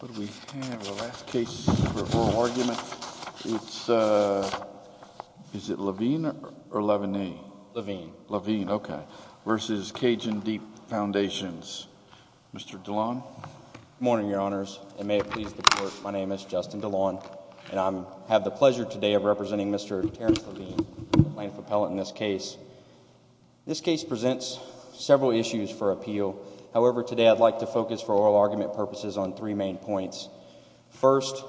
Good morning, Your Honors, and may it please the Court, my name is Justin DeLon, and I have the pleasure today of representing Mr. Terrance Lavigne, plaintiff appellant in this case. This case presents several issues for appeal, however today I'd like to focus for oral argument purposes on three main points. First,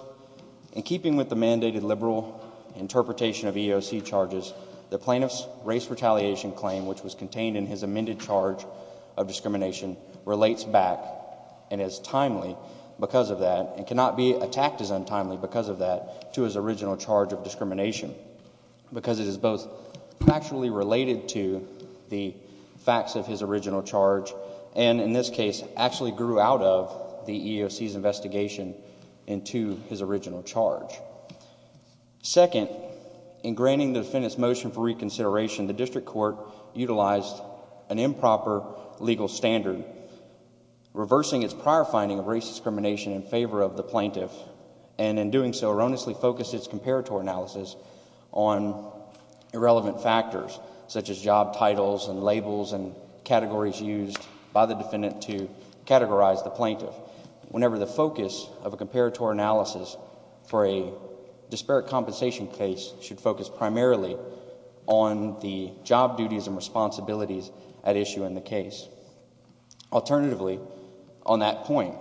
in keeping with the mandated liberal interpretation of EEOC charges, the plaintiff's race retaliation claim which was contained in his amended charge of discrimination relates back and is timely because of that and cannot be attacked as untimely because of that to his original charge of discrimination because it is both factually related to the facts of his original charge and, in this case, actually grew out of the EEOC's investigation into his original charge. Second, in granting the defendant's motion for reconsideration, the district court utilized an improper legal standard, reversing its prior finding of race discrimination in favor of the plaintiff and in doing so erroneously focused its comparator analysis on irrelevant factors such as job titles and labels and categories used by the defendant to categorize the plaintiff whenever the focus of a comparator analysis for a disparate compensation case should focus primarily on the job duties and responsibilities at issue in the case. Alternatively, on that point,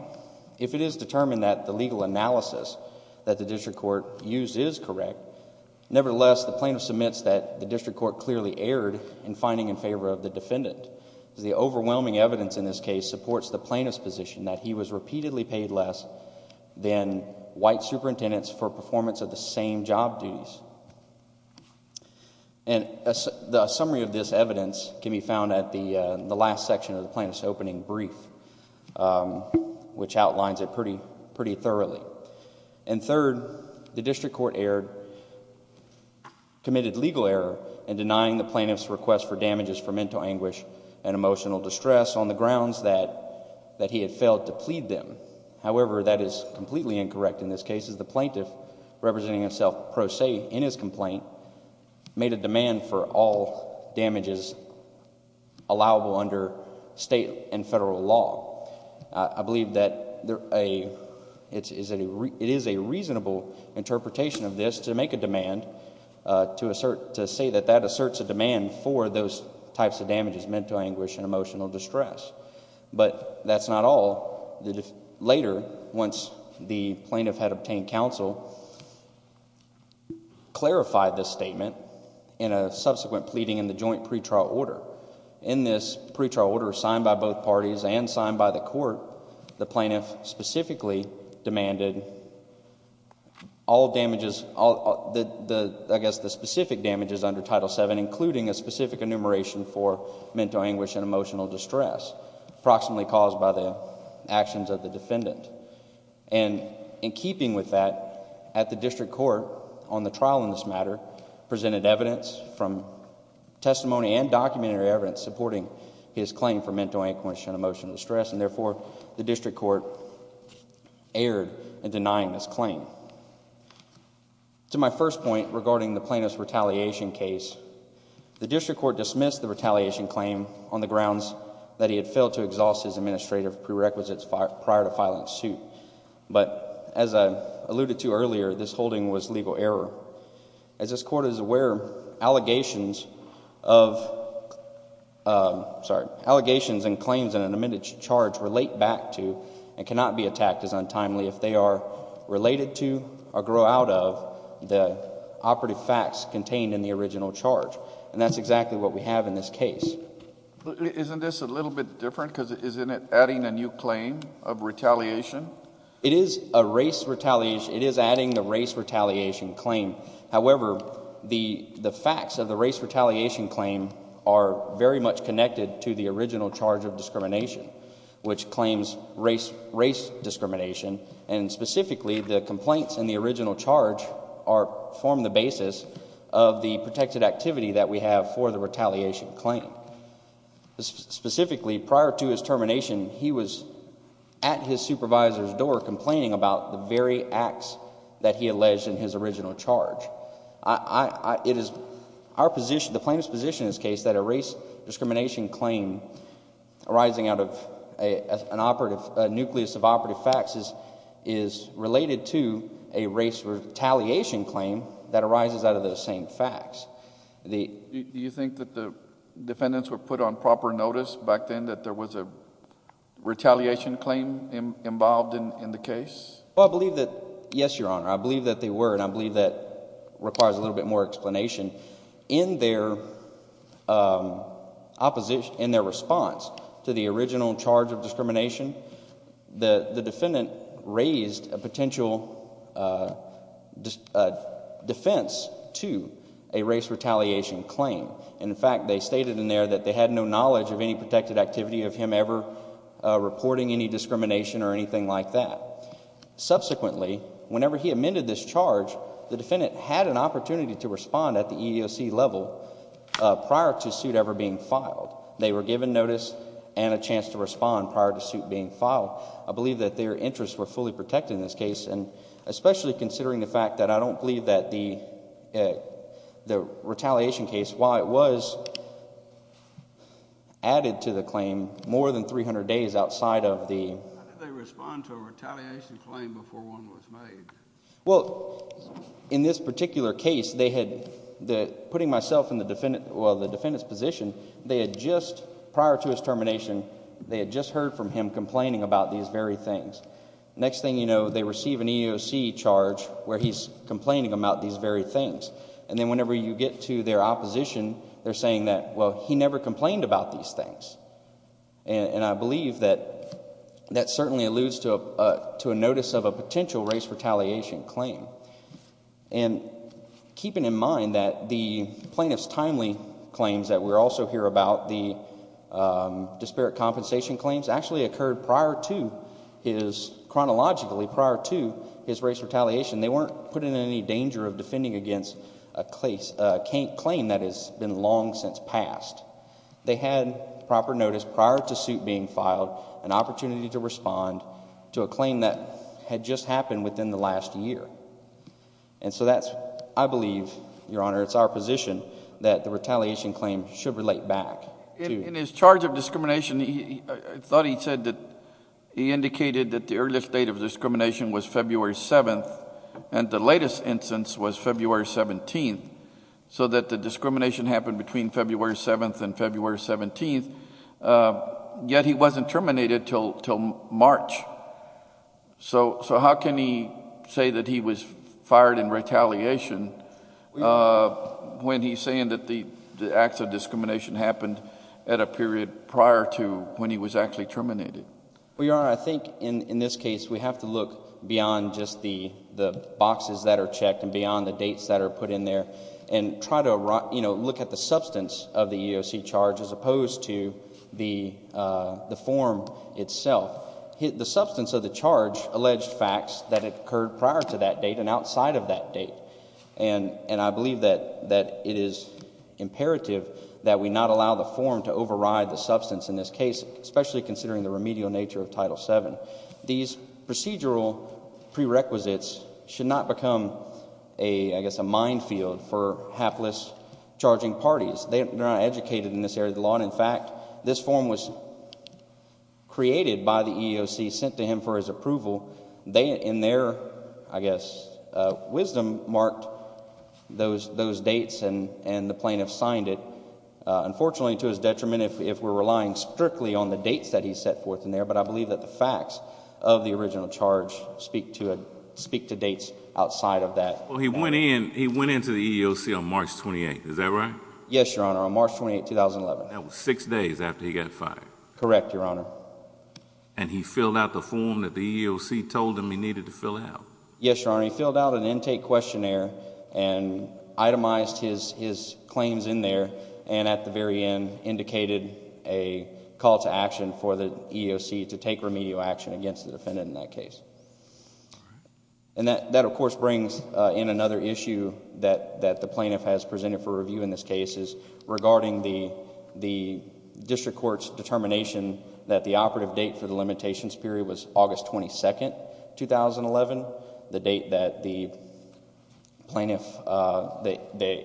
if it is determined that the legal analysis that the district court used is correct, nevertheless, the plaintiff submits that the district court clearly erred in finding in favor of the defendant. The overwhelming evidence in this case supports the plaintiff's position that he was repeatedly paid less than white superintendents for performance of the same job duties. The summary of this evidence can be found at the last section of the plaintiff's opening brief, which outlines it pretty thoroughly. Third, the district court committed legal error in denying the plaintiff's request for damages for mental anguish and emotional distress on the grounds that he had failed to plead them. However, that is completely incorrect in this case as the plaintiff, representing himself pro se in his complaint, made a demand for all damages allowable under state and federal law. I believe that it is a reasonable interpretation of this to make a demand, to say that that asserts a demand for those types of damages, mental anguish and emotional distress. But that's not all. Later, once the plaintiff had obtained counsel, clarified this statement in a subsequent pleading in the joint pretrial order. In this pretrial order, signed by both parties and signed by the court, the plaintiff specifically demanded all damages... I guess the specific damages under Title VII, including a specific enumeration for mental anguish and emotional distress, approximately caused by the actions of the defendant. In keeping with that, at the district court, on the trial in this matter, presented evidence from testimony and documentary evidence supporting his claim for mental anguish and emotional distress. And therefore, the district court erred in denying this claim. To my first point regarding the plaintiff's retaliation case, the district court dismissed the retaliation claim on the grounds that he had failed to exhaust his administrative prerequisites prior to filing the suit. But as I alluded to earlier, this holding was legal error. As this court is aware, allegations and claims in an amended charge relate back to and cannot be attacked as untimely if they are related to or grow out of the operative facts contained in the original charge. And that's exactly what we have in this case. Isn't this a little bit different because isn't it adding a new claim of retaliation? It is a race retaliation. It is adding the race retaliation claim. However, the facts of the race retaliation claim are very much connected to the original charge of discrimination, which claims race discrimination. And specifically, the complaints in the original charge form the basis of the protected activity that we have for the retaliation claim. Specifically, prior to his termination, he was at his supervisor's door complaining about the very acts that he alleged in his original charge. It is our position, the plaintiff's position in this case, that a race discrimination claim arising out of a nucleus of operative facts is related to a race retaliation claim that arises out of those same facts. Do you think that the defendants were put on proper notice back then that there was a retaliation claim involved in the case? Well, I believe that, yes, Your Honor. I believe that they were, and I believe that requires a little bit more explanation. In their response to the original charge of discrimination, the defendant raised a potential defense to a race retaliation claim. In fact, they stated in there that they had no knowledge of any protected activity of him ever reporting any discrimination or anything like that. Subsequently, whenever he amended this charge, the defendant had an opportunity to respond at the EEOC level prior to suit ever being filed. They were given notice and a chance to respond prior to suit being filed. I believe that their interests were fully protected in this case, especially considering the fact that I don't believe that the retaliation case, while it was added to the claim more than 300 days outside of the... How did they respond to a retaliation claim before one was made? In this particular case, putting myself in the defendant's position, prior to his termination, they had just heard from him complaining about these very things. Next thing you know, they receive an EEOC charge where he's complaining about these very things. Then, whenever you get to their opposition, they're saying that, well, he never complained about these things. I believe that that certainly alludes to a notice of a potential race retaliation claim. Keeping in mind that the plaintiff's timely claims that we also hear about, the disparate compensation claims, actually occurred prior to his... chronologically prior to his race retaliation. They weren't put in any danger of defending against a claim that has been long since passed. They had proper notice prior to suit being filed, an opportunity to respond to a claim that had just happened within the last year. I believe, Your Honor, it's our position that the retaliation claim should relate back. In his charge of discrimination, I thought he said that he indicated that the earliest date of discrimination was February 7th, and the latest instance was February 17th, so that the discrimination happened between February 7th and February 17th, yet he wasn't terminated until March. So how can he say that he was fired in retaliation when he's saying that the acts of discrimination happened at a period prior to when he was actually terminated? Well, Your Honor, I think in this case, we have to look beyond just the boxes that are checked and beyond the dates that are put in there, and try to look at the substance of the EEOC charge as opposed to the form itself. The substance of the charge alleged facts that occurred prior to that date and outside of that date, and I believe that it is imperative that we not allow the form to override the substance in this case, especially considering the remedial nature of Title VII. These procedural prerequisites should not become, I guess, a minefield for hapless charging parties. They are not educated in this area of the law, and in fact, this form was created by the EEOC, sent to him for his approval. They in their, I guess, wisdom marked those dates, and the plaintiff signed it, unfortunately to his detriment if we're relying strictly on the dates that he set forth in there, but I believe that the facts of the original charge speak to dates outside of that. He went into the EEOC on March 28th, is that right? Yes, Your Honor. On March 28th, 2011. That was six days after he got fired. Correct, Your Honor. And he filled out the form that the EEOC told him he needed to fill out? Yes, Your Honor. He filled out an intake questionnaire and itemized his claims in there, and at the very end indicated a call to action for the EEOC to take remedial action against the defendant in that case. And that, of course, brings in another issue that the plaintiff has presented for review in this case is regarding the district court's determination that the operative date for the limitations period was August 22nd, 2011, the date that the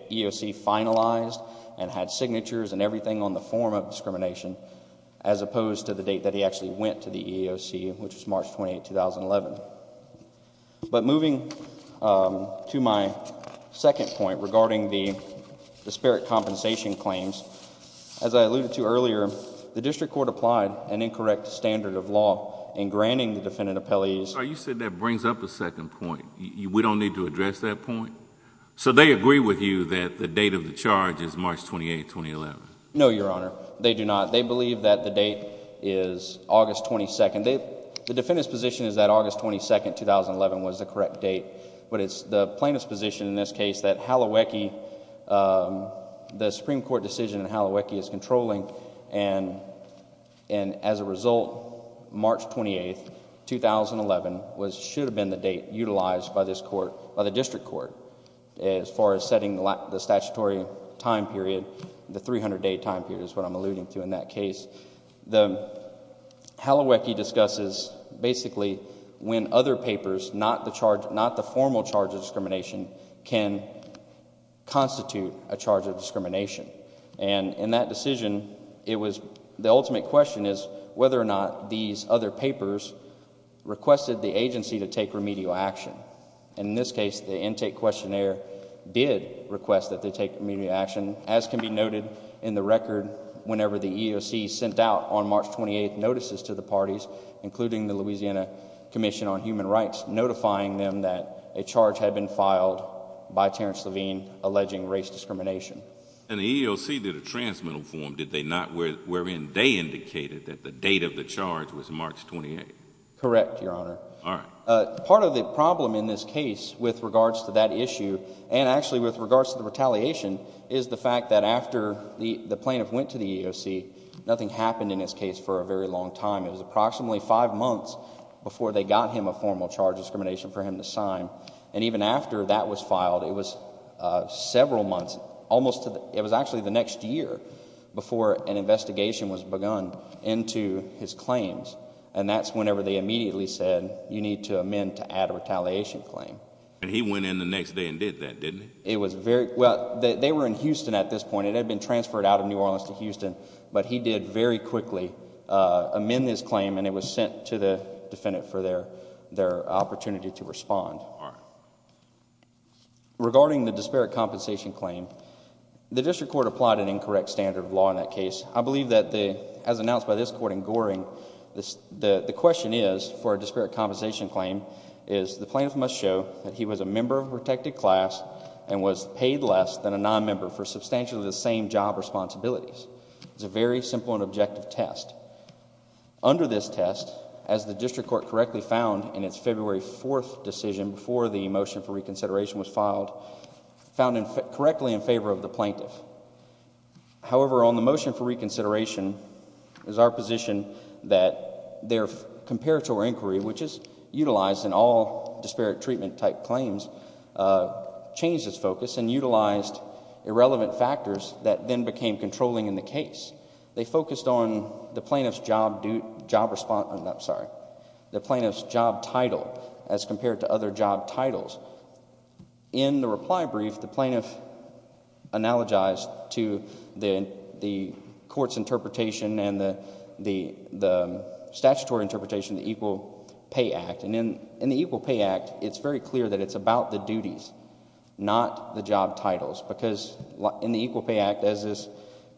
EEOC finalized and had signatures and everything on the form of discrimination, as opposed to the date that he actually went to the EEOC, which was March 28th, 2011. But moving to my second point regarding the disparate compensation claims, as I alluded to earlier, the district court applied an incorrect standard of law in granting the defendant appellees... So you said that brings up a second point. We don't need to address that point? So they agree with you that the date of the charge is March 28th, 2011? No, Your Honor. They do not. They do not agree that the date is August 22nd. The defendant's position is that August 22nd, 2011 was the correct date, but it's the plaintiff's position in this case that the Supreme Court decision in Hallowecki is controlling, and as a result, March 28th, 2011 should have been the date utilized by the district court as far as setting the statutory time period, the 300-day time period is what I'm alluding to in that case. The... Hallowecki discusses basically when other papers, not the formal charge of discrimination, can constitute a charge of discrimination, and in that decision, it was... the ultimate question is whether or not these other papers requested the agency to take remedial action. In this case, the intake questionnaire did request that they take remedial action, as can be noted in the record whenever the EEOC sent out on March 28th notices to the parties, including the Louisiana Commission on Human Rights, notifying them that a charge had been filed by Terrence Levine alleging race discrimination. And the EEOC did a transmittal form, did they not, wherein they indicated that the date of the charge was March 28th? Correct, Your Honor. All right. Part of the problem in this case with regards to that issue, and actually with regards to retaliation, is the fact that after the plaintiff went to the EEOC, nothing happened in this case for a very long time. It was approximately five months before they got him a formal charge of discrimination for him to sign, and even after that was filed, it was several months, almost... it was actually the next year before an investigation was begun into his claims, and that's whenever they immediately said, you need to amend to add a retaliation claim. And he went in the next day and did that, didn't he? It was very... well, they were in Houston at this point, and it had been transferred out of New Orleans to Houston, but he did very quickly amend his claim, and it was sent to the defendant for their opportunity to respond. All right. Regarding the disparate compensation claim, the district court applied an incorrect standard of law in that case. I believe that, as announced by this court in Goring, the question is, for a disparate compensation claim, is the plaintiff must show that he was a member of a protected class and was paid less than a nonmember for substantially the same job responsibilities. It's a very simple and objective test. Under this test, as the district court correctly found in its February 4th decision before the motion for reconsideration was filed, found correctly in favor of the plaintiff. However, on the motion for reconsideration, it is our position that their comparator inquiry, which is utilized in all disparate treatment type claims, changed its focus and utilized irrelevant factors that then became controlling in the case. They focused on the plaintiff's job title as compared to other job titles. In the reply brief, the plaintiff analogized to the court's interpretation and the statutory interpretation of the Equal Pay Act. In the Equal Pay Act, it's very clear that it's about the duties, not the job titles, because in the Equal Pay Act, as is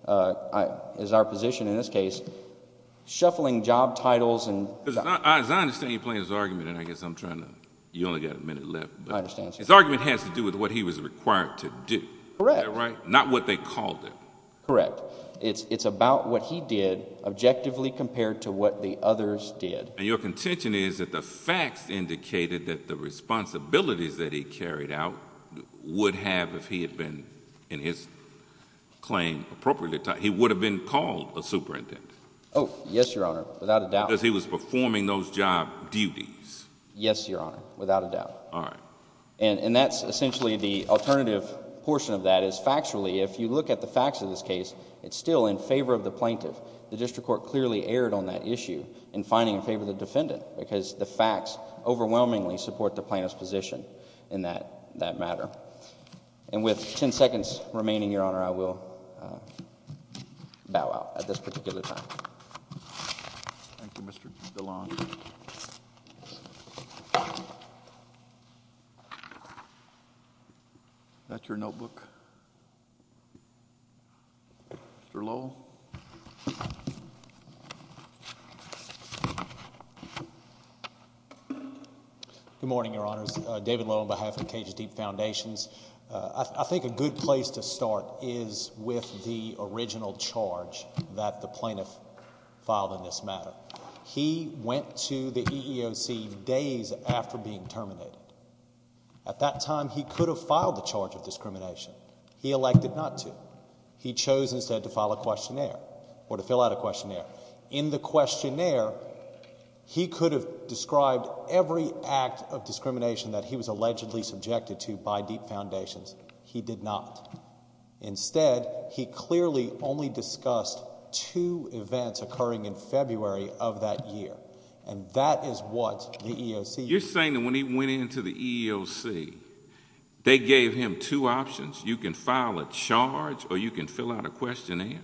our position in this case, shuffling job titles and... As I understand, you're playing his argument, and I guess I'm trying to... You only got a minute left. I understand, sir. His argument has to do with what he was required to do. Correct. Is that right? Not what they called it. Correct. It's about what he did objectively compared to what the others did. Your contention is that the facts indicated that the responsibilities that he carried out would have, if he had been in his claim appropriately... He would have been called a superintendent. Oh, yes, Your Honor, without a doubt. Because he was performing those job duties. Yes, Your Honor, without a doubt. And that's essentially the alternative portion of that is factually, if you look at the facts of this case, it's still in favor of the plaintiff. The district court clearly erred on that issue in finding in favor of the defendant, because the facts overwhelmingly support the plaintiff's position in that matter. And with ten seconds remaining, Your Honor, I will bow out at this particular time. Thank you, Mr. DeLonge. Is that your notebook, Mr. Lowell? Good morning, Your Honors. David Lowell on behalf of Cage's Deep Foundations. I think a good place to start is with the original charge that the plaintiff filed in this matter. He went to the EEOC days after being terminated. At that time, he could have filed the charge of discrimination. He elected not to. He chose instead to file a questionnaire, or to fill out a questionnaire. In the questionnaire, he could have described every act of discrimination that he was allegedly subjected to by Deep Foundations. He did not. Instead, he clearly only discussed two events occurring in February of that year. And that is what the EEOC... You're saying that when he went into the EEOC, they gave him two options? You can file a charge, or you can fill out a questionnaire?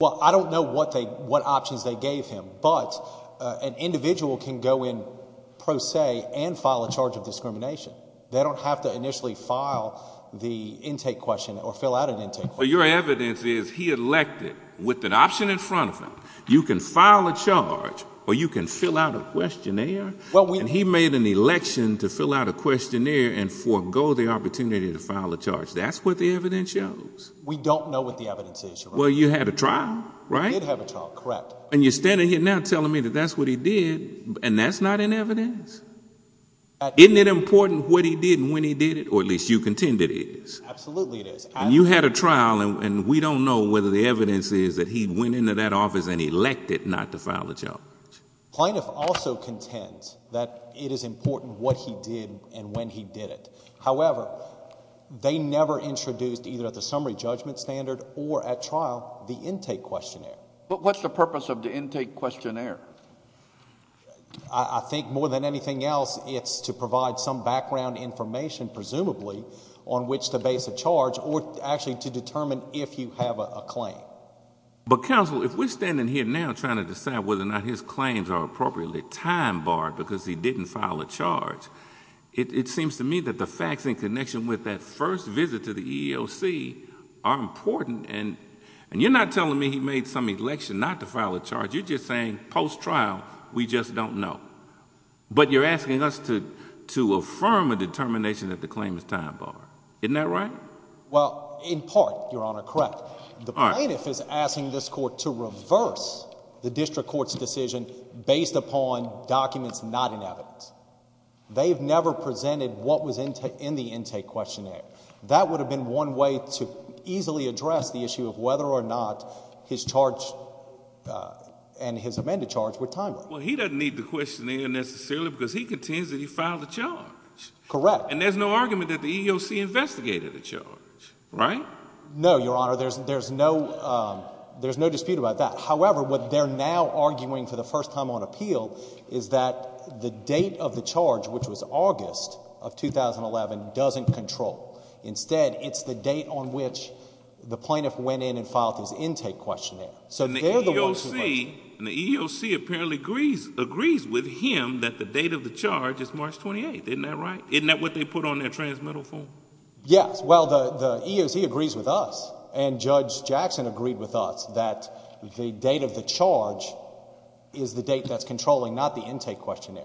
Well, I don't know what options they gave him, but an individual can go in pro se and file a charge of discrimination. They don't have to initially file the intake question or fill out an intake question. Your evidence is he elected with an option in front of him. You can file a charge, or you can fill out a questionnaire? And he made an election to fill out a questionnaire and forego the opportunity to file a charge. That's what the evidence shows. We don't know what the evidence is, Your Honor. Well, you had a trial, right? He did have a trial, correct. And you're standing here now telling me that that's what he did, and that's not in evidence? Isn't it important what he did and when he did it, or at least you contend it is? Absolutely it is. And you had a trial, and we don't know whether the evidence is that he went into that office and elected not to file a charge. Plaintiff also contends that it is important what he did and when he did it. However, they never introduced, either at the summary judgment standard or at trial, the intake questionnaire. But what's the purpose of the intake questionnaire? I think more than anything else, it's to provide some background information, presumably, on which to base a charge, or actually to determine if you have a claim. But counsel, if we're standing here now trying to decide whether or not his claims are appropriately time barred because he didn't file a charge, it seems to me that the facts in connection with that first visit to the EEOC are important, and you're not telling me he made some election not to file a charge. You're just saying, post-trial, we just don't know. But you're asking us to affirm a determination that the claim is time barred. Isn't that right? Well, in part, Your Honor, correct. The plaintiff is asking this court to reverse the district court's decision based upon documents not in evidence. They've never presented what was in the intake questionnaire. That would have been one way to easily address the issue of whether or not his charge and his amended charge were time barred. Well, he doesn't need the questionnaire necessarily because he contends that he filed a charge. Correct. And there's no argument that the EEOC investigated the charge, right? No, Your Honor, there's no dispute about that. However, what they're now arguing for the first time on appeal is that the date of the charge is March 28th. Instead, it's the date on which the plaintiff went in and filed his intake questionnaire. So they're the ones who went in. And the EEOC apparently agrees with him that the date of the charge is March 28th. Isn't that right? Isn't that what they put on their transmittal form? Yes. Well, the EEOC agrees with us, and Judge Jackson agreed with us that the date of the charge is the date that's controlling, not the intake questionnaire.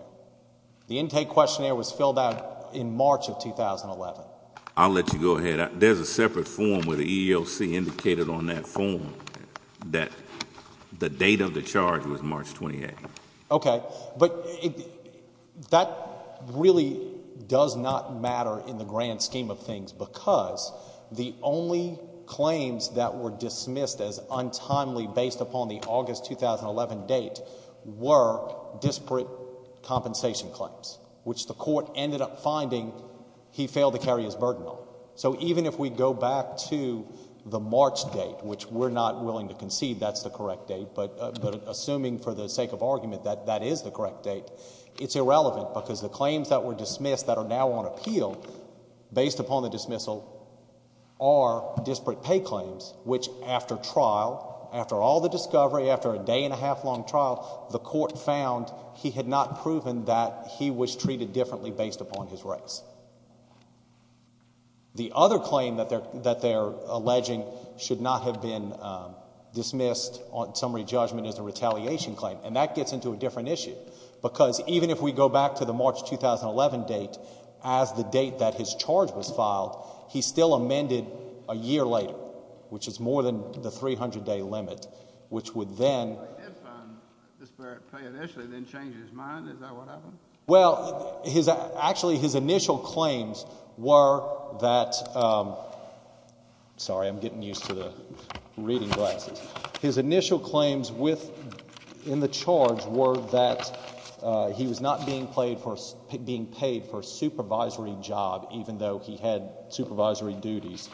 The intake questionnaire was filled out in March of 2011. I'll let you go ahead. There's a separate form where the EEOC indicated on that form that the date of the charge was March 28th. Okay. But that really does not matter in the grand scheme of things because the only claims that were dismissed as untimely based upon the August 2011 date were disparate compensation claims, which the court ended up finding he failed to carry his burden on. So even if we go back to the March date, which we're not willing to concede that's the correct date, but assuming for the sake of argument that that is the correct date, it's irrelevant because the claims that were dismissed that are now on appeal based upon the dismissal are disparate pay claims, which after trial, after all the discovery, after a day and a half, he was treated differently based upon his rights. The other claim that they're alleging should not have been dismissed on summary judgment as a retaliation claim, and that gets into a different issue because even if we go back to the March 2011 date as the date that his charge was filed, he still amended a year later, which is more than the 300-day limit, which would then... Well, he did find disparate pay initially, then change his mind, is that what happened? Well, actually his initial claims were that... sorry, I'm getting used to the reading glasses. His initial claims in the charge were that he was not being paid for a supervisory job even though he had supervisory duties,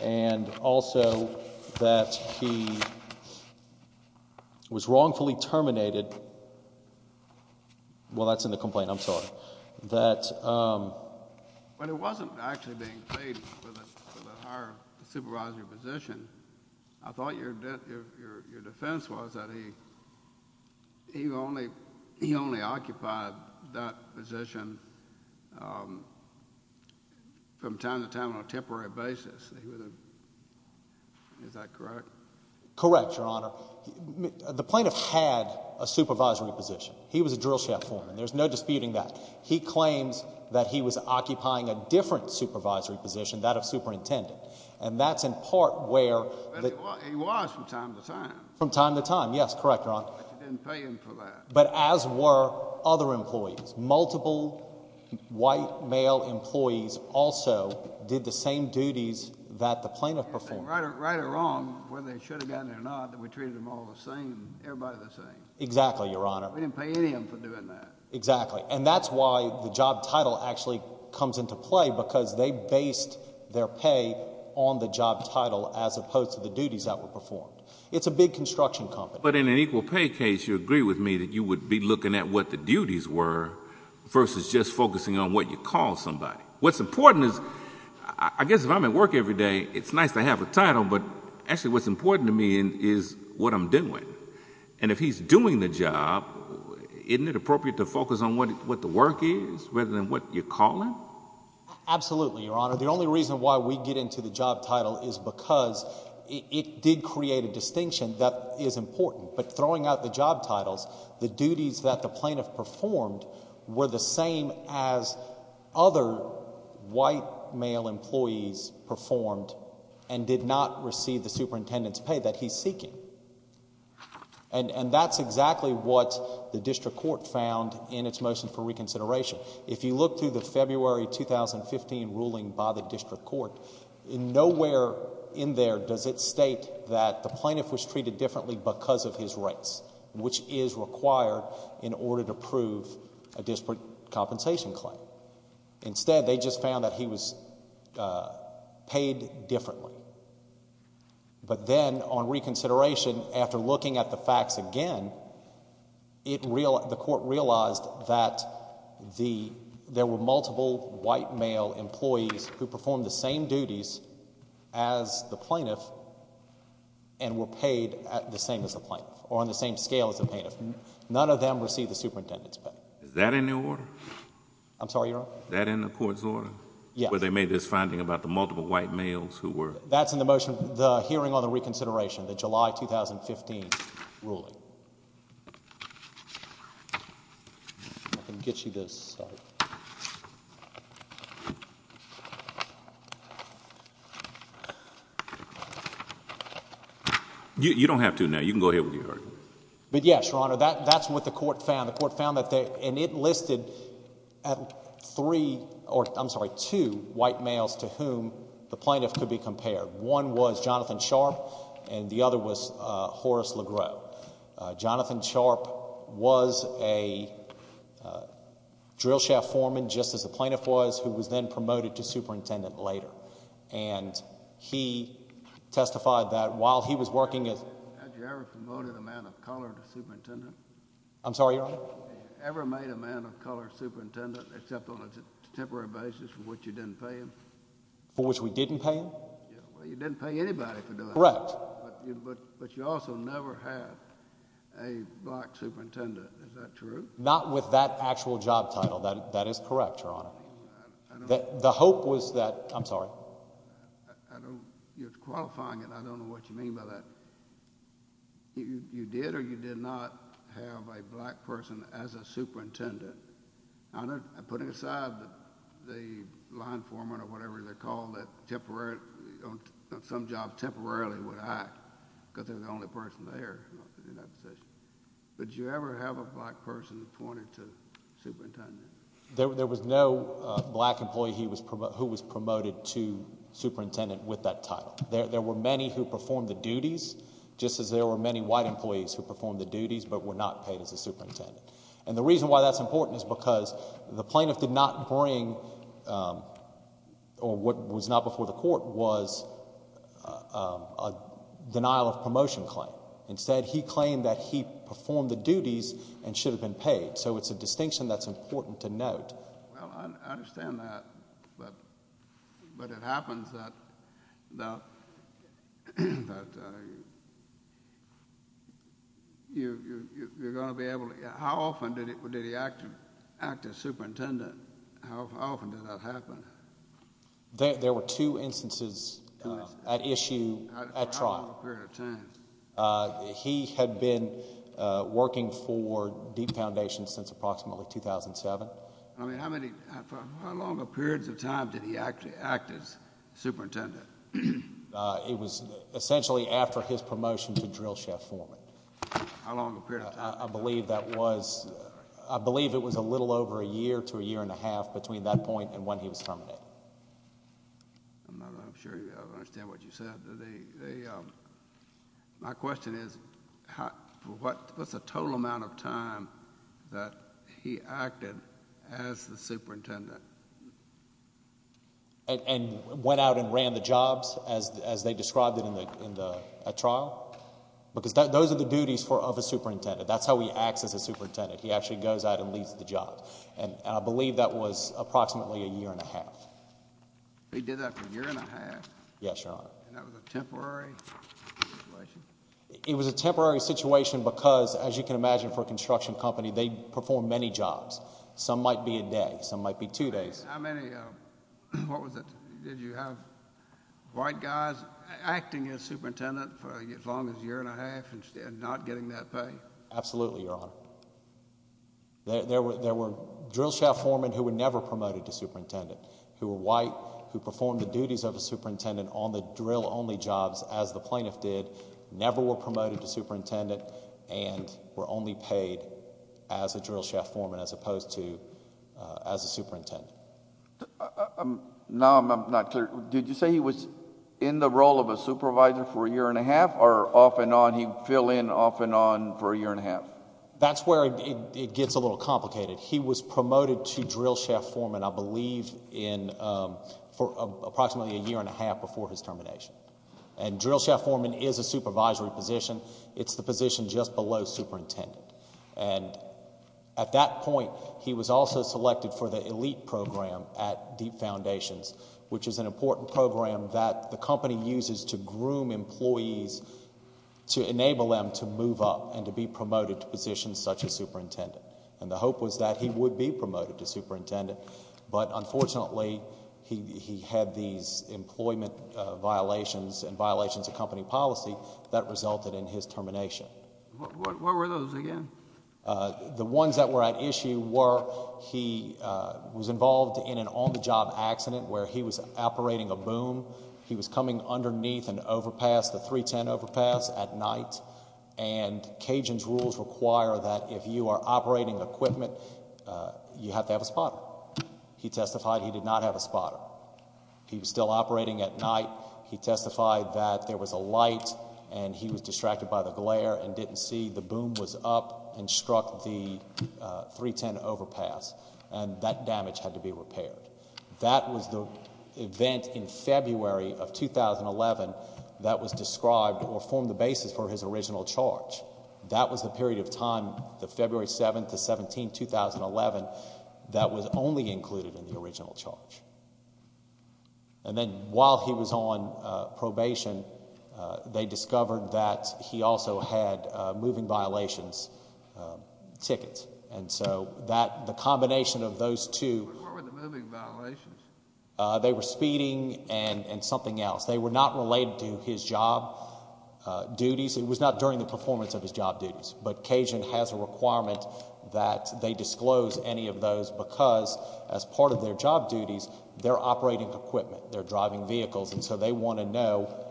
and also that he was wrongfully terminated... well, that's in the complaint. I'm sorry. That... But it wasn't actually being paid for the higher supervisory position. I thought your defense was that he only occupied that position from time to time on a temporary basis. Is that correct? Correct, Your Honor. The plaintiff had a supervisory position. He was a drill shaft foreman. There's no disputing that. He claims that he was occupying a different supervisory position, that of superintendent, and that's in part where... But he was from time to time. From time to time. Yes, correct, Your Honor. But you didn't pay him for that. But as were other employees, multiple white male employees also did the same duties that the plaintiff performed. Right or wrong, whether they should have gotten it or not, that we treated them all the same, everybody the same. Exactly, Your Honor. We didn't pay any of them for doing that. Exactly, and that's why the job title actually comes into play because they based their pay on the job title as opposed to the duties that were performed. It's a big construction company. But in an equal pay case, you agree with me that you would be looking at what the duties were versus just focusing on what you call somebody. What's important is... I guess if I'm at work every day, it's nice to have a title, but actually what's important to me is what I'm doing. And if he's doing the job, isn't it appropriate to focus on what the work is rather than what you're calling? Absolutely, Your Honor. The only reason why we get into the job title is because it did create a distinction that is important. But throwing out the job titles, the duties that the plaintiff performed were the same as other white male employees performed and did not receive the superintendent's pay that he's seeking. And that's exactly what the district court found in its motion for reconsideration. If you look through the February 2015 ruling by the district court, nowhere in there does it state that the plaintiff was treated differently because of his rights, which is required in order to prove a disparate compensation claim. Instead, they just found that he was paid differently. But then, on reconsideration, after looking at the facts again, the court realized that there were multiple white male employees who performed the same duties as the plaintiff and were paid the same as the plaintiff or on the same scale as the plaintiff. None of them received the superintendent's pay. Is that in the order? I'm sorry, Your Honor? Is that in the court's order? Yes. Is that where they made this finding about the multiple white males who were? That's in the motion, the hearing on the reconsideration, the July 2015 ruling. I can get you this. You don't have to now. You can go ahead with your argument. But yes, Your Honor, that's what the court found. And it listed two white males to whom the plaintiff could be compared. One was Jonathan Sharp and the other was Horace Legros. Jonathan Sharp was a drill shaft foreman, just as the plaintiff was, who was then promoted to superintendent later. And he testified that while he was working as... Had you ever promoted a man of color to superintendent? I'm sorry, Your Honor? Had you ever made a man of color superintendent except on a temporary basis for which you didn't pay him? For which we didn't pay him? Well, you didn't pay anybody for doing that. Correct. But you also never had a black superintendent. Is that true? Not with that actual job title. That is correct, Your Honor. I don't... The hope was that... I'm sorry? I don't... You're qualifying it. I don't know what you mean by that. You did or you did not. You did or you did not have a black person as a superintendent. I'm putting aside the line foreman or whatever they're called that on some job temporarily would act because they're the only person there in that position. But did you ever have a black person appointed to superintendent? There was no black employee who was promoted to superintendent with that title. There were many who performed the duties, just as there were many white employees who were not paid as a superintendent. The reason why that's important is because the plaintiff did not bring, or what was not before the court was a denial of promotion claim. Instead, he claimed that he performed the duties and should have been paid. Well, I understand that, but it happens that you're going to be able to... How often did he act as superintendent? How often did that happen? There were two instances at issue at trial. He had been working for Deep Foundation since approximately 2007. How long of periods of time did he actually act as superintendent? It was essentially after his promotion to drill chef foreman. How long of a period of time? I believe it was a little over a year to a year and a half between that point and when he was terminated. I'm not sure I understand what you said. My question is, what's the total amount of time that he acted as the superintendent? And went out and ran the jobs as they described it at trial? Because those are the duties of a superintendent. That's how he acts as a superintendent. He actually goes out and leads the job. I believe that was approximately a year and a half. He did that for a year and a half? Yes, Your Honor. And that was a temporary situation? It was a temporary situation because, as you can imagine for a construction company, they perform many jobs. Some might be a day. Some might be two days. How many, what was it, did you have white guys acting as superintendent for as long as a year and a half and not getting that pay? Absolutely, Your Honor. There were drill chef foremen who were never promoted to superintendent, who were white, who performed the duties of a superintendent on the drill only jobs as the plaintiff did, never were promoted to superintendent, and were only paid as a drill chef foreman as opposed to as a superintendent. Now I'm not clear. Did you say he was in the role of a supervisor for a year and a half or off and on, he'd fill in off and on for a year and a half? That's where it gets a little complicated. He was promoted to drill chef foreman, I believe, for approximately a year and a half before his termination. And drill chef foreman is a supervisory position. It's the position just below superintendent. And at that point, he was also selected for the elite program at Deep Foundations, which is an important program that the company uses to groom employees to enable them to move up and to be promoted to positions such as superintendent. And the hope was that he would be promoted to superintendent. But unfortunately, he had these employment violations and violations of company policy that resulted in his termination. What were those again? The ones that were at issue were he was involved in an on-the-job accident where he was operating a boom. He was coming underneath an overpass, the 310 overpass, at night. And Cajun's rules require that if you are operating equipment, you have to have a spotter. He testified he did not have a spotter. He was still operating at night. He testified that there was a light and he was distracted by the glare and didn't see the boom was up and struck the 310 overpass. And that damage had to be repaired. That was the event in February of 2011 that was described or formed the basis for his original charge. That was the period of time, the February 7th to 17th, 2011, that was only included in the original charge. And then while he was on probation, they discovered that he also had moving violations tickets. And so the combination of those two... What were the moving violations? They were speeding and something else. They were not related to his job duties. It was not during the performance of his job duties. But Cajun has a requirement that they disclose any of those because as part of their job duties, they're operating equipment. They're driving vehicles. And so they want to know,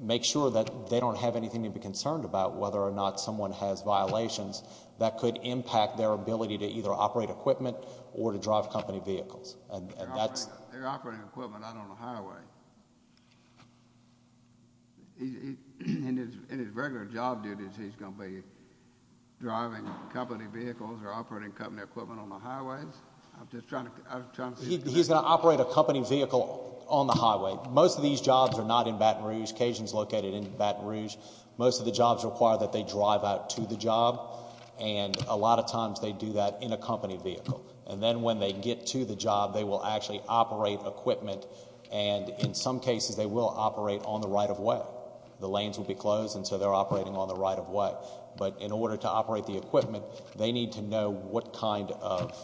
make sure that they don't have anything to be concerned about whether or not someone has violations that could impact their ability to either operate equipment or to drive company vehicles. They're operating equipment out on the highway. In his regular job duties, he's going to be driving company vehicles or operating company equipment on the highways? He's going to operate a company vehicle on the highway. Most of these jobs are not in Baton Rouge. Cajun's located in Baton Rouge. Most of the jobs require that they drive out to the job. And a lot of times, they do that in a company vehicle. And then when they get to the job, they will actually operate equipment. And in some cases, they will operate on the right-of-way. The lanes will be closed, and so they're operating on the right-of-way. But in order to operate the equipment, they need to know what kind of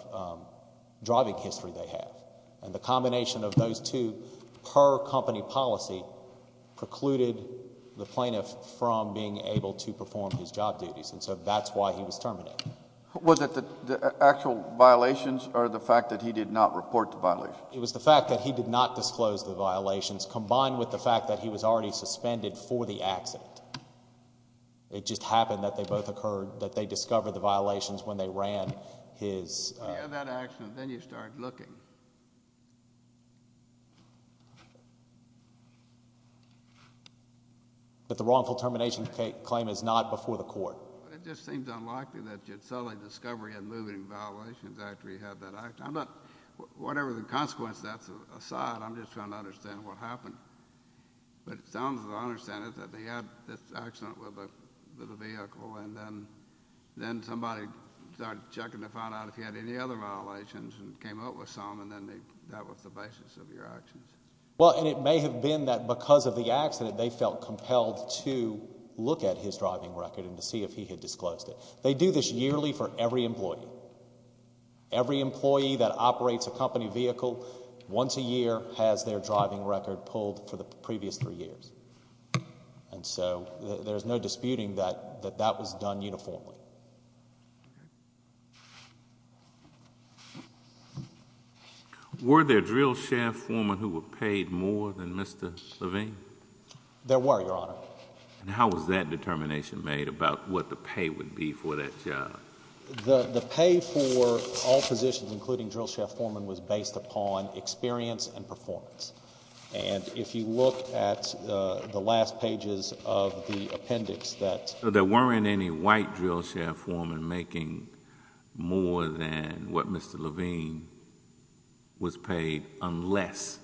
driving history they have. And the combination of those two per company policy precluded the plaintiff from being able to perform his job duties. And so that's why he was terminated. Was it the actual violations or the fact that he did not report the violations? It was the fact that he did not disclose the violations combined with the fact that he was already suspended for the accident. It just happened that they both occurred, that they discovered the violations when they ran his... If you have that accident, then you start looking. But the wrongful termination claim is not before the court? It just seems unlikely that you'd suddenly discover he had moving violations after he had that accident. I'm not... Whatever the consequence, that's aside. I'm just trying to understand what happened. But it sounds as though I understand it, that they had this accident with a vehicle, and then somebody started checking to find out if he had any other violations and came up with some, and then that was the basis of your actions. Well, and it may have been that because of the accident, they felt compelled to look at his driving record and to see if he had disclosed it. They do this yearly for every employee. Every employee that operates a company vehicle once a year has their driving record pulled for the previous three years. And so there's no disputing that that was done uniformly. Were there drill chef foremen who were paid more than Mr. Levine? There were, Your Honor. And how was that determination made about what the pay would be for that job? The pay for all positions, including drill chef foremen, was based upon experience and performance. And if you look at the last pages of the appendix that... So there weren't any white drill chef foremen making more than what Mr. Levine was paid unless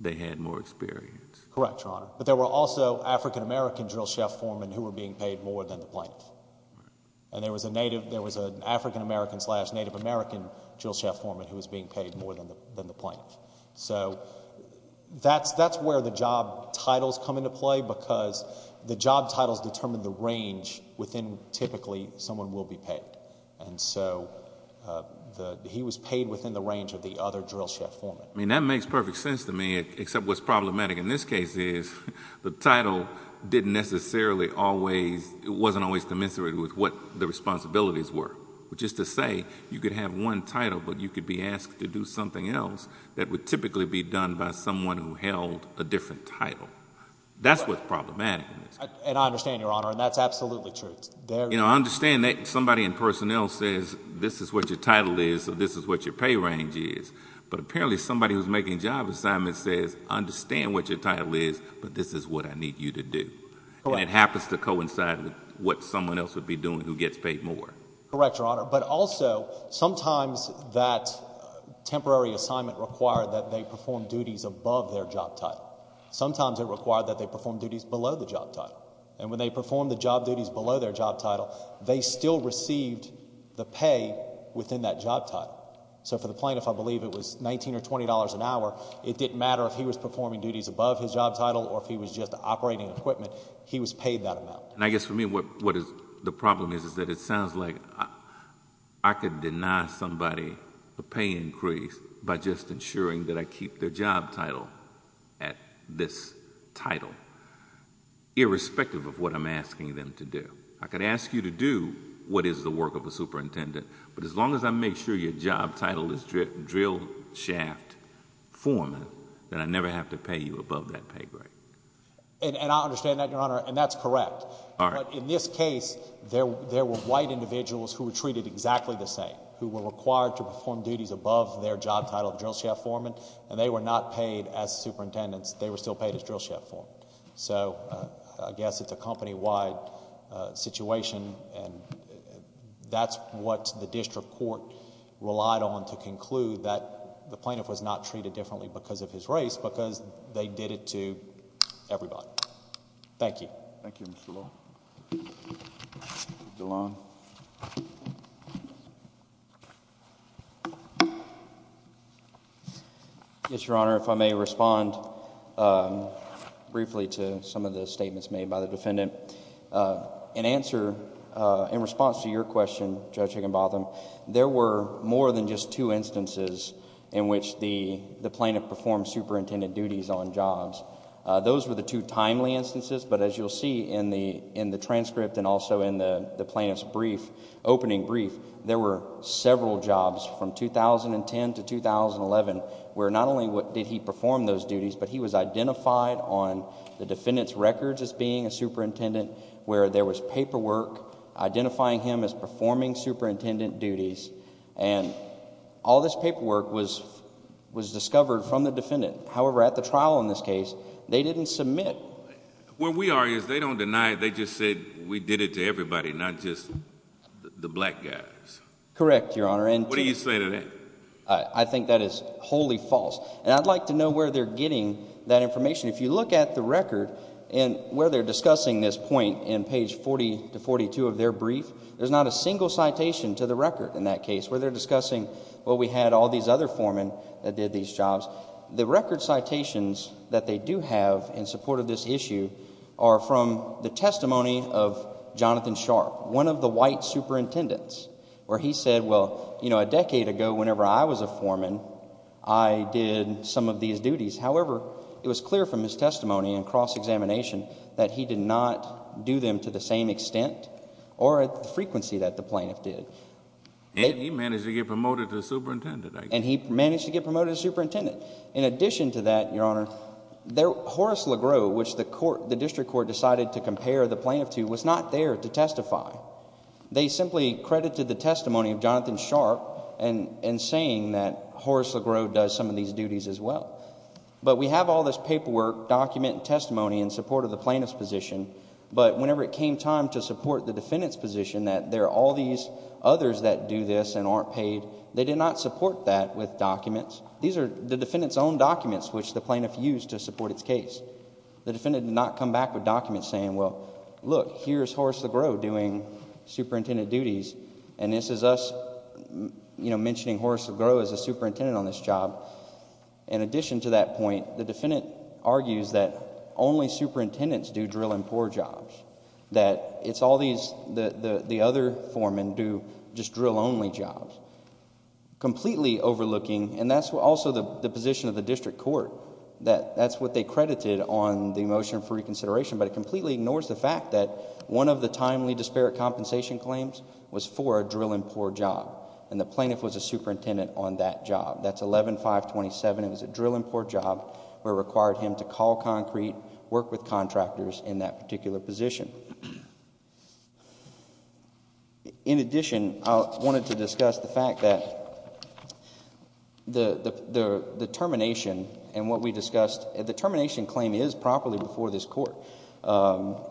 they had more experience? Correct, Your Honor. But there were also African-American drill chef foremen who were being paid more than the plaintiff. And there was an African-American slash Native American drill chef foreman who was being paid more than the plaintiff. So that's where the job titles come into play because the job titles determine the range within which typically someone will be paid. And so he was paid within the range of the other drill chef foremen. I mean, that makes perfect sense to me, except what's problematic in this case is the title didn't necessarily always... it wasn't always commensurate with what the responsibilities were. Which is to say, you could have one title, but you could be asked to do something else that would typically be done by someone who held a different title. That's what's problematic in this case. And I understand, Your Honor, and that's absolutely true. You know, I understand that somebody in personnel says, this is what your title is or this is what your pay range is. But apparently somebody who's making job assignments says, understand what your title is, but this is what I need you to do. And it happens to coincide with what someone else would be doing who gets paid more. Correct, Your Honor. But also, sometimes that temporary assignment required that they perform duties above their job title. Sometimes it required that they perform duties below the job title. And when they performed the job duties below their job title, they still received the pay within that job title. So for the plaintiff, I believe it was $19 or $20 an hour, it didn't matter if he was performing duties above his job title or if he was just operating equipment, he was paid that amount. And I guess for me, what the problem is, is that it sounds like I could deny somebody a pay increase by just ensuring that I keep their job title at this title, irrespective of what I'm asking them to do. I could ask you to do what is the work of a superintendent, but as long as I make sure your job title is drill shaft foreman, then I never have to pay you above that pay grade. And I understand that, Your Honor, and that's correct. But in this case, there were white individuals who were treated exactly the same, who were required to perform duties above their job title of drill shaft foreman, and they were not paid as superintendents. They were still paid as drill shaft foreman. So I guess it's a company-wide situation, and that's what the district court relied on to conclude that the plaintiff was not treated differently because of his race, because they did it to everybody. Thank you. Thank you, Mr. Lowe. Yes, Your Honor, if I may respond briefly to some of the statements made by the defendant. In answer, in response to your question, Judge Higginbotham, there were more than just two duties on jobs. Those were the two timely instances, but as you'll see in the transcript and also in the plaintiff's opening brief, there were several jobs from 2010 to 2011 where not only did he perform those duties, but he was identified on the defendant's records as being a superintendent where there was paperwork identifying him as performing superintendent duties. And all this paperwork was discovered from the defendant. However, at the trial in this case, they didn't submit. Where we are is they don't deny it. They just said we did it to everybody, not just the black guys. Correct, Your Honor. What do you say to that? I think that is wholly false. And I'd like to know where they're getting that information. If you look at the record and where they're discussing this point in page 40 to 42 of their brief, there's not a single citation to the record in that case where they're discussing, well, we had all these other foremen that did these jobs. The record citations that they do have in support of this issue are from the testimony of Jonathan Sharp, one of the white superintendents, where he said, well, you know, a decade ago whenever I was a foreman, I did some of these duties. However, it was clear from his testimony and cross-examination that he did not do them to the same extent or frequency that the plaintiff did. And he managed to get promoted to superintendent, I guess. And he managed to get promoted to superintendent. In addition to that, Your Honor, Horace Legros, which the district court decided to compare the plaintiff to, was not there to testify. They simply credited the testimony of Jonathan Sharp in saying that Horace Legros does some of these duties as well. But we have all this paperwork, document, testimony in support of the plaintiff's position, but whenever it came time to support the defendant's position that there are all these others that do this and aren't paid, they did not support that with documents. These are the defendant's own documents which the plaintiff used to support its case. The defendant did not come back with documents saying, well, look, here's Horace Legros doing superintendent duties, and this is us mentioning Horace Legros as a superintendent on this job. In addition to that point, the defendant argues that only superintendents do drill and pour jobs, that it's all these... the other foremen do just drill-only jobs, completely overlooking... and that's also the position of the district court, that that's what they credited on the motion for reconsideration, but it completely ignores the fact that one of the timely disparate compensation claims was for a drill and pour job, and the plaintiff was a superintendent on that job. That's 11-527. It was a drill and pour job where it required him to call concrete, work with contractors in that particular position. In addition, I wanted to discuss the fact that the termination and what we discussed, the termination claim is properly before this court.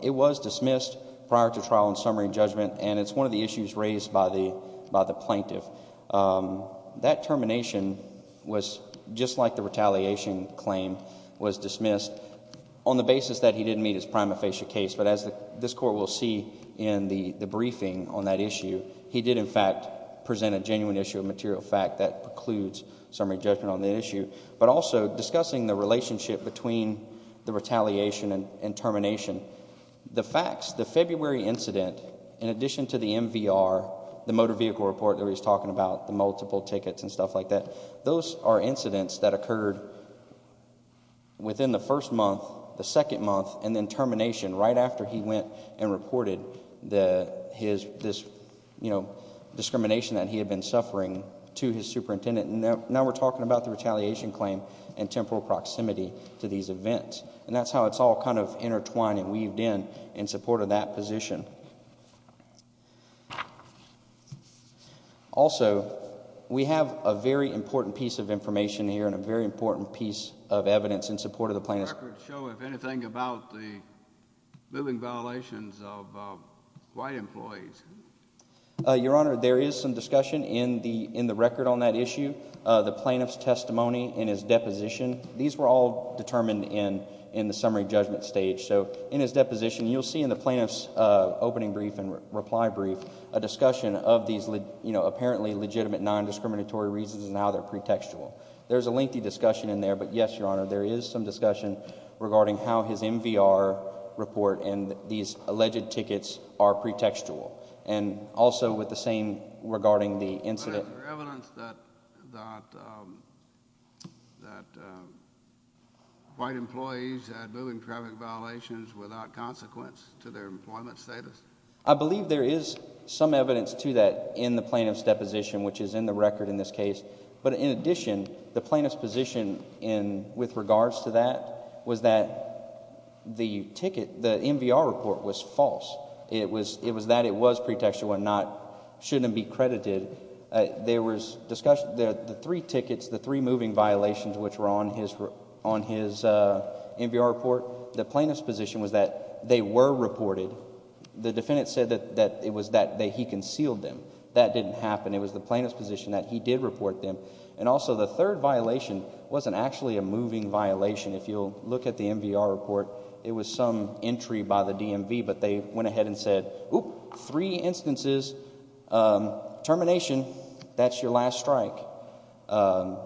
It was dismissed prior to trial and summary judgment, and it's one of the issues raised by the plaintiff. That termination was, just like the retaliation claim, was dismissed on the basis that he did meet his prima facie case, but as this court will see in the briefing on that issue, he did, in fact, present a genuine issue of material fact that precludes summary judgment on the issue, but also discussing the relationship between the retaliation and termination. The facts, the February incident, in addition to the MVR, the motor vehicle report that we were talking about, the multiple tickets and stuff like that, those are incidents that right after he went and reported this discrimination that he had been suffering to his superintendent. Now we're talking about the retaliation claim and temporal proximity to these events. That's how it's all intertwined and weaved in in support of that position. Also, we have a very important piece of information here and a very important piece of evidence in support of the plaintiff. Does the record show, if anything, about the moving violations of white employees? Your Honor, there is some discussion in the record on that issue. The plaintiff's testimony in his deposition, these were all determined in the summary judgment stage. In his deposition, you'll see in the plaintiff's opening brief and reply brief, a discussion of these apparently legitimate non-discriminatory reasons and how they're pretextual. There's a lengthy discussion in there, but yes, Your Honor, there is some discussion regarding how his MVR report and these alleged tickets are pretextual. Also, with the same regarding the incident... Is there evidence that white employees had moving traffic violations without consequence to their employment status? I believe there is some evidence to that in the plaintiff's deposition, which is in the plaintiff's position with regards to that was that the ticket, the MVR report was false. It was that it was pretextual and should not be credited. The three tickets, the three moving violations which were on his MVR report, the plaintiff's position was that they were reported. The defendant said that it was that he concealed them. That didn't happen. It was the plaintiff's position that he did report them. Also, the third violation wasn't actually a moving violation. If you'll look at the MVR report, it was some entry by the DMV, but they went ahead and said, three instances, termination, that's your last strike. Your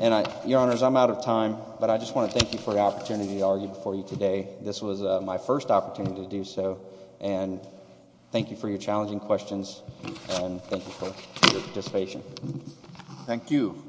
Honors, I'm out of time, but I just want to thank you for the opportunity to argue before you today. This was my first opportunity to do so, and thank you for your challenging questions and thank you for your participation. Thank you.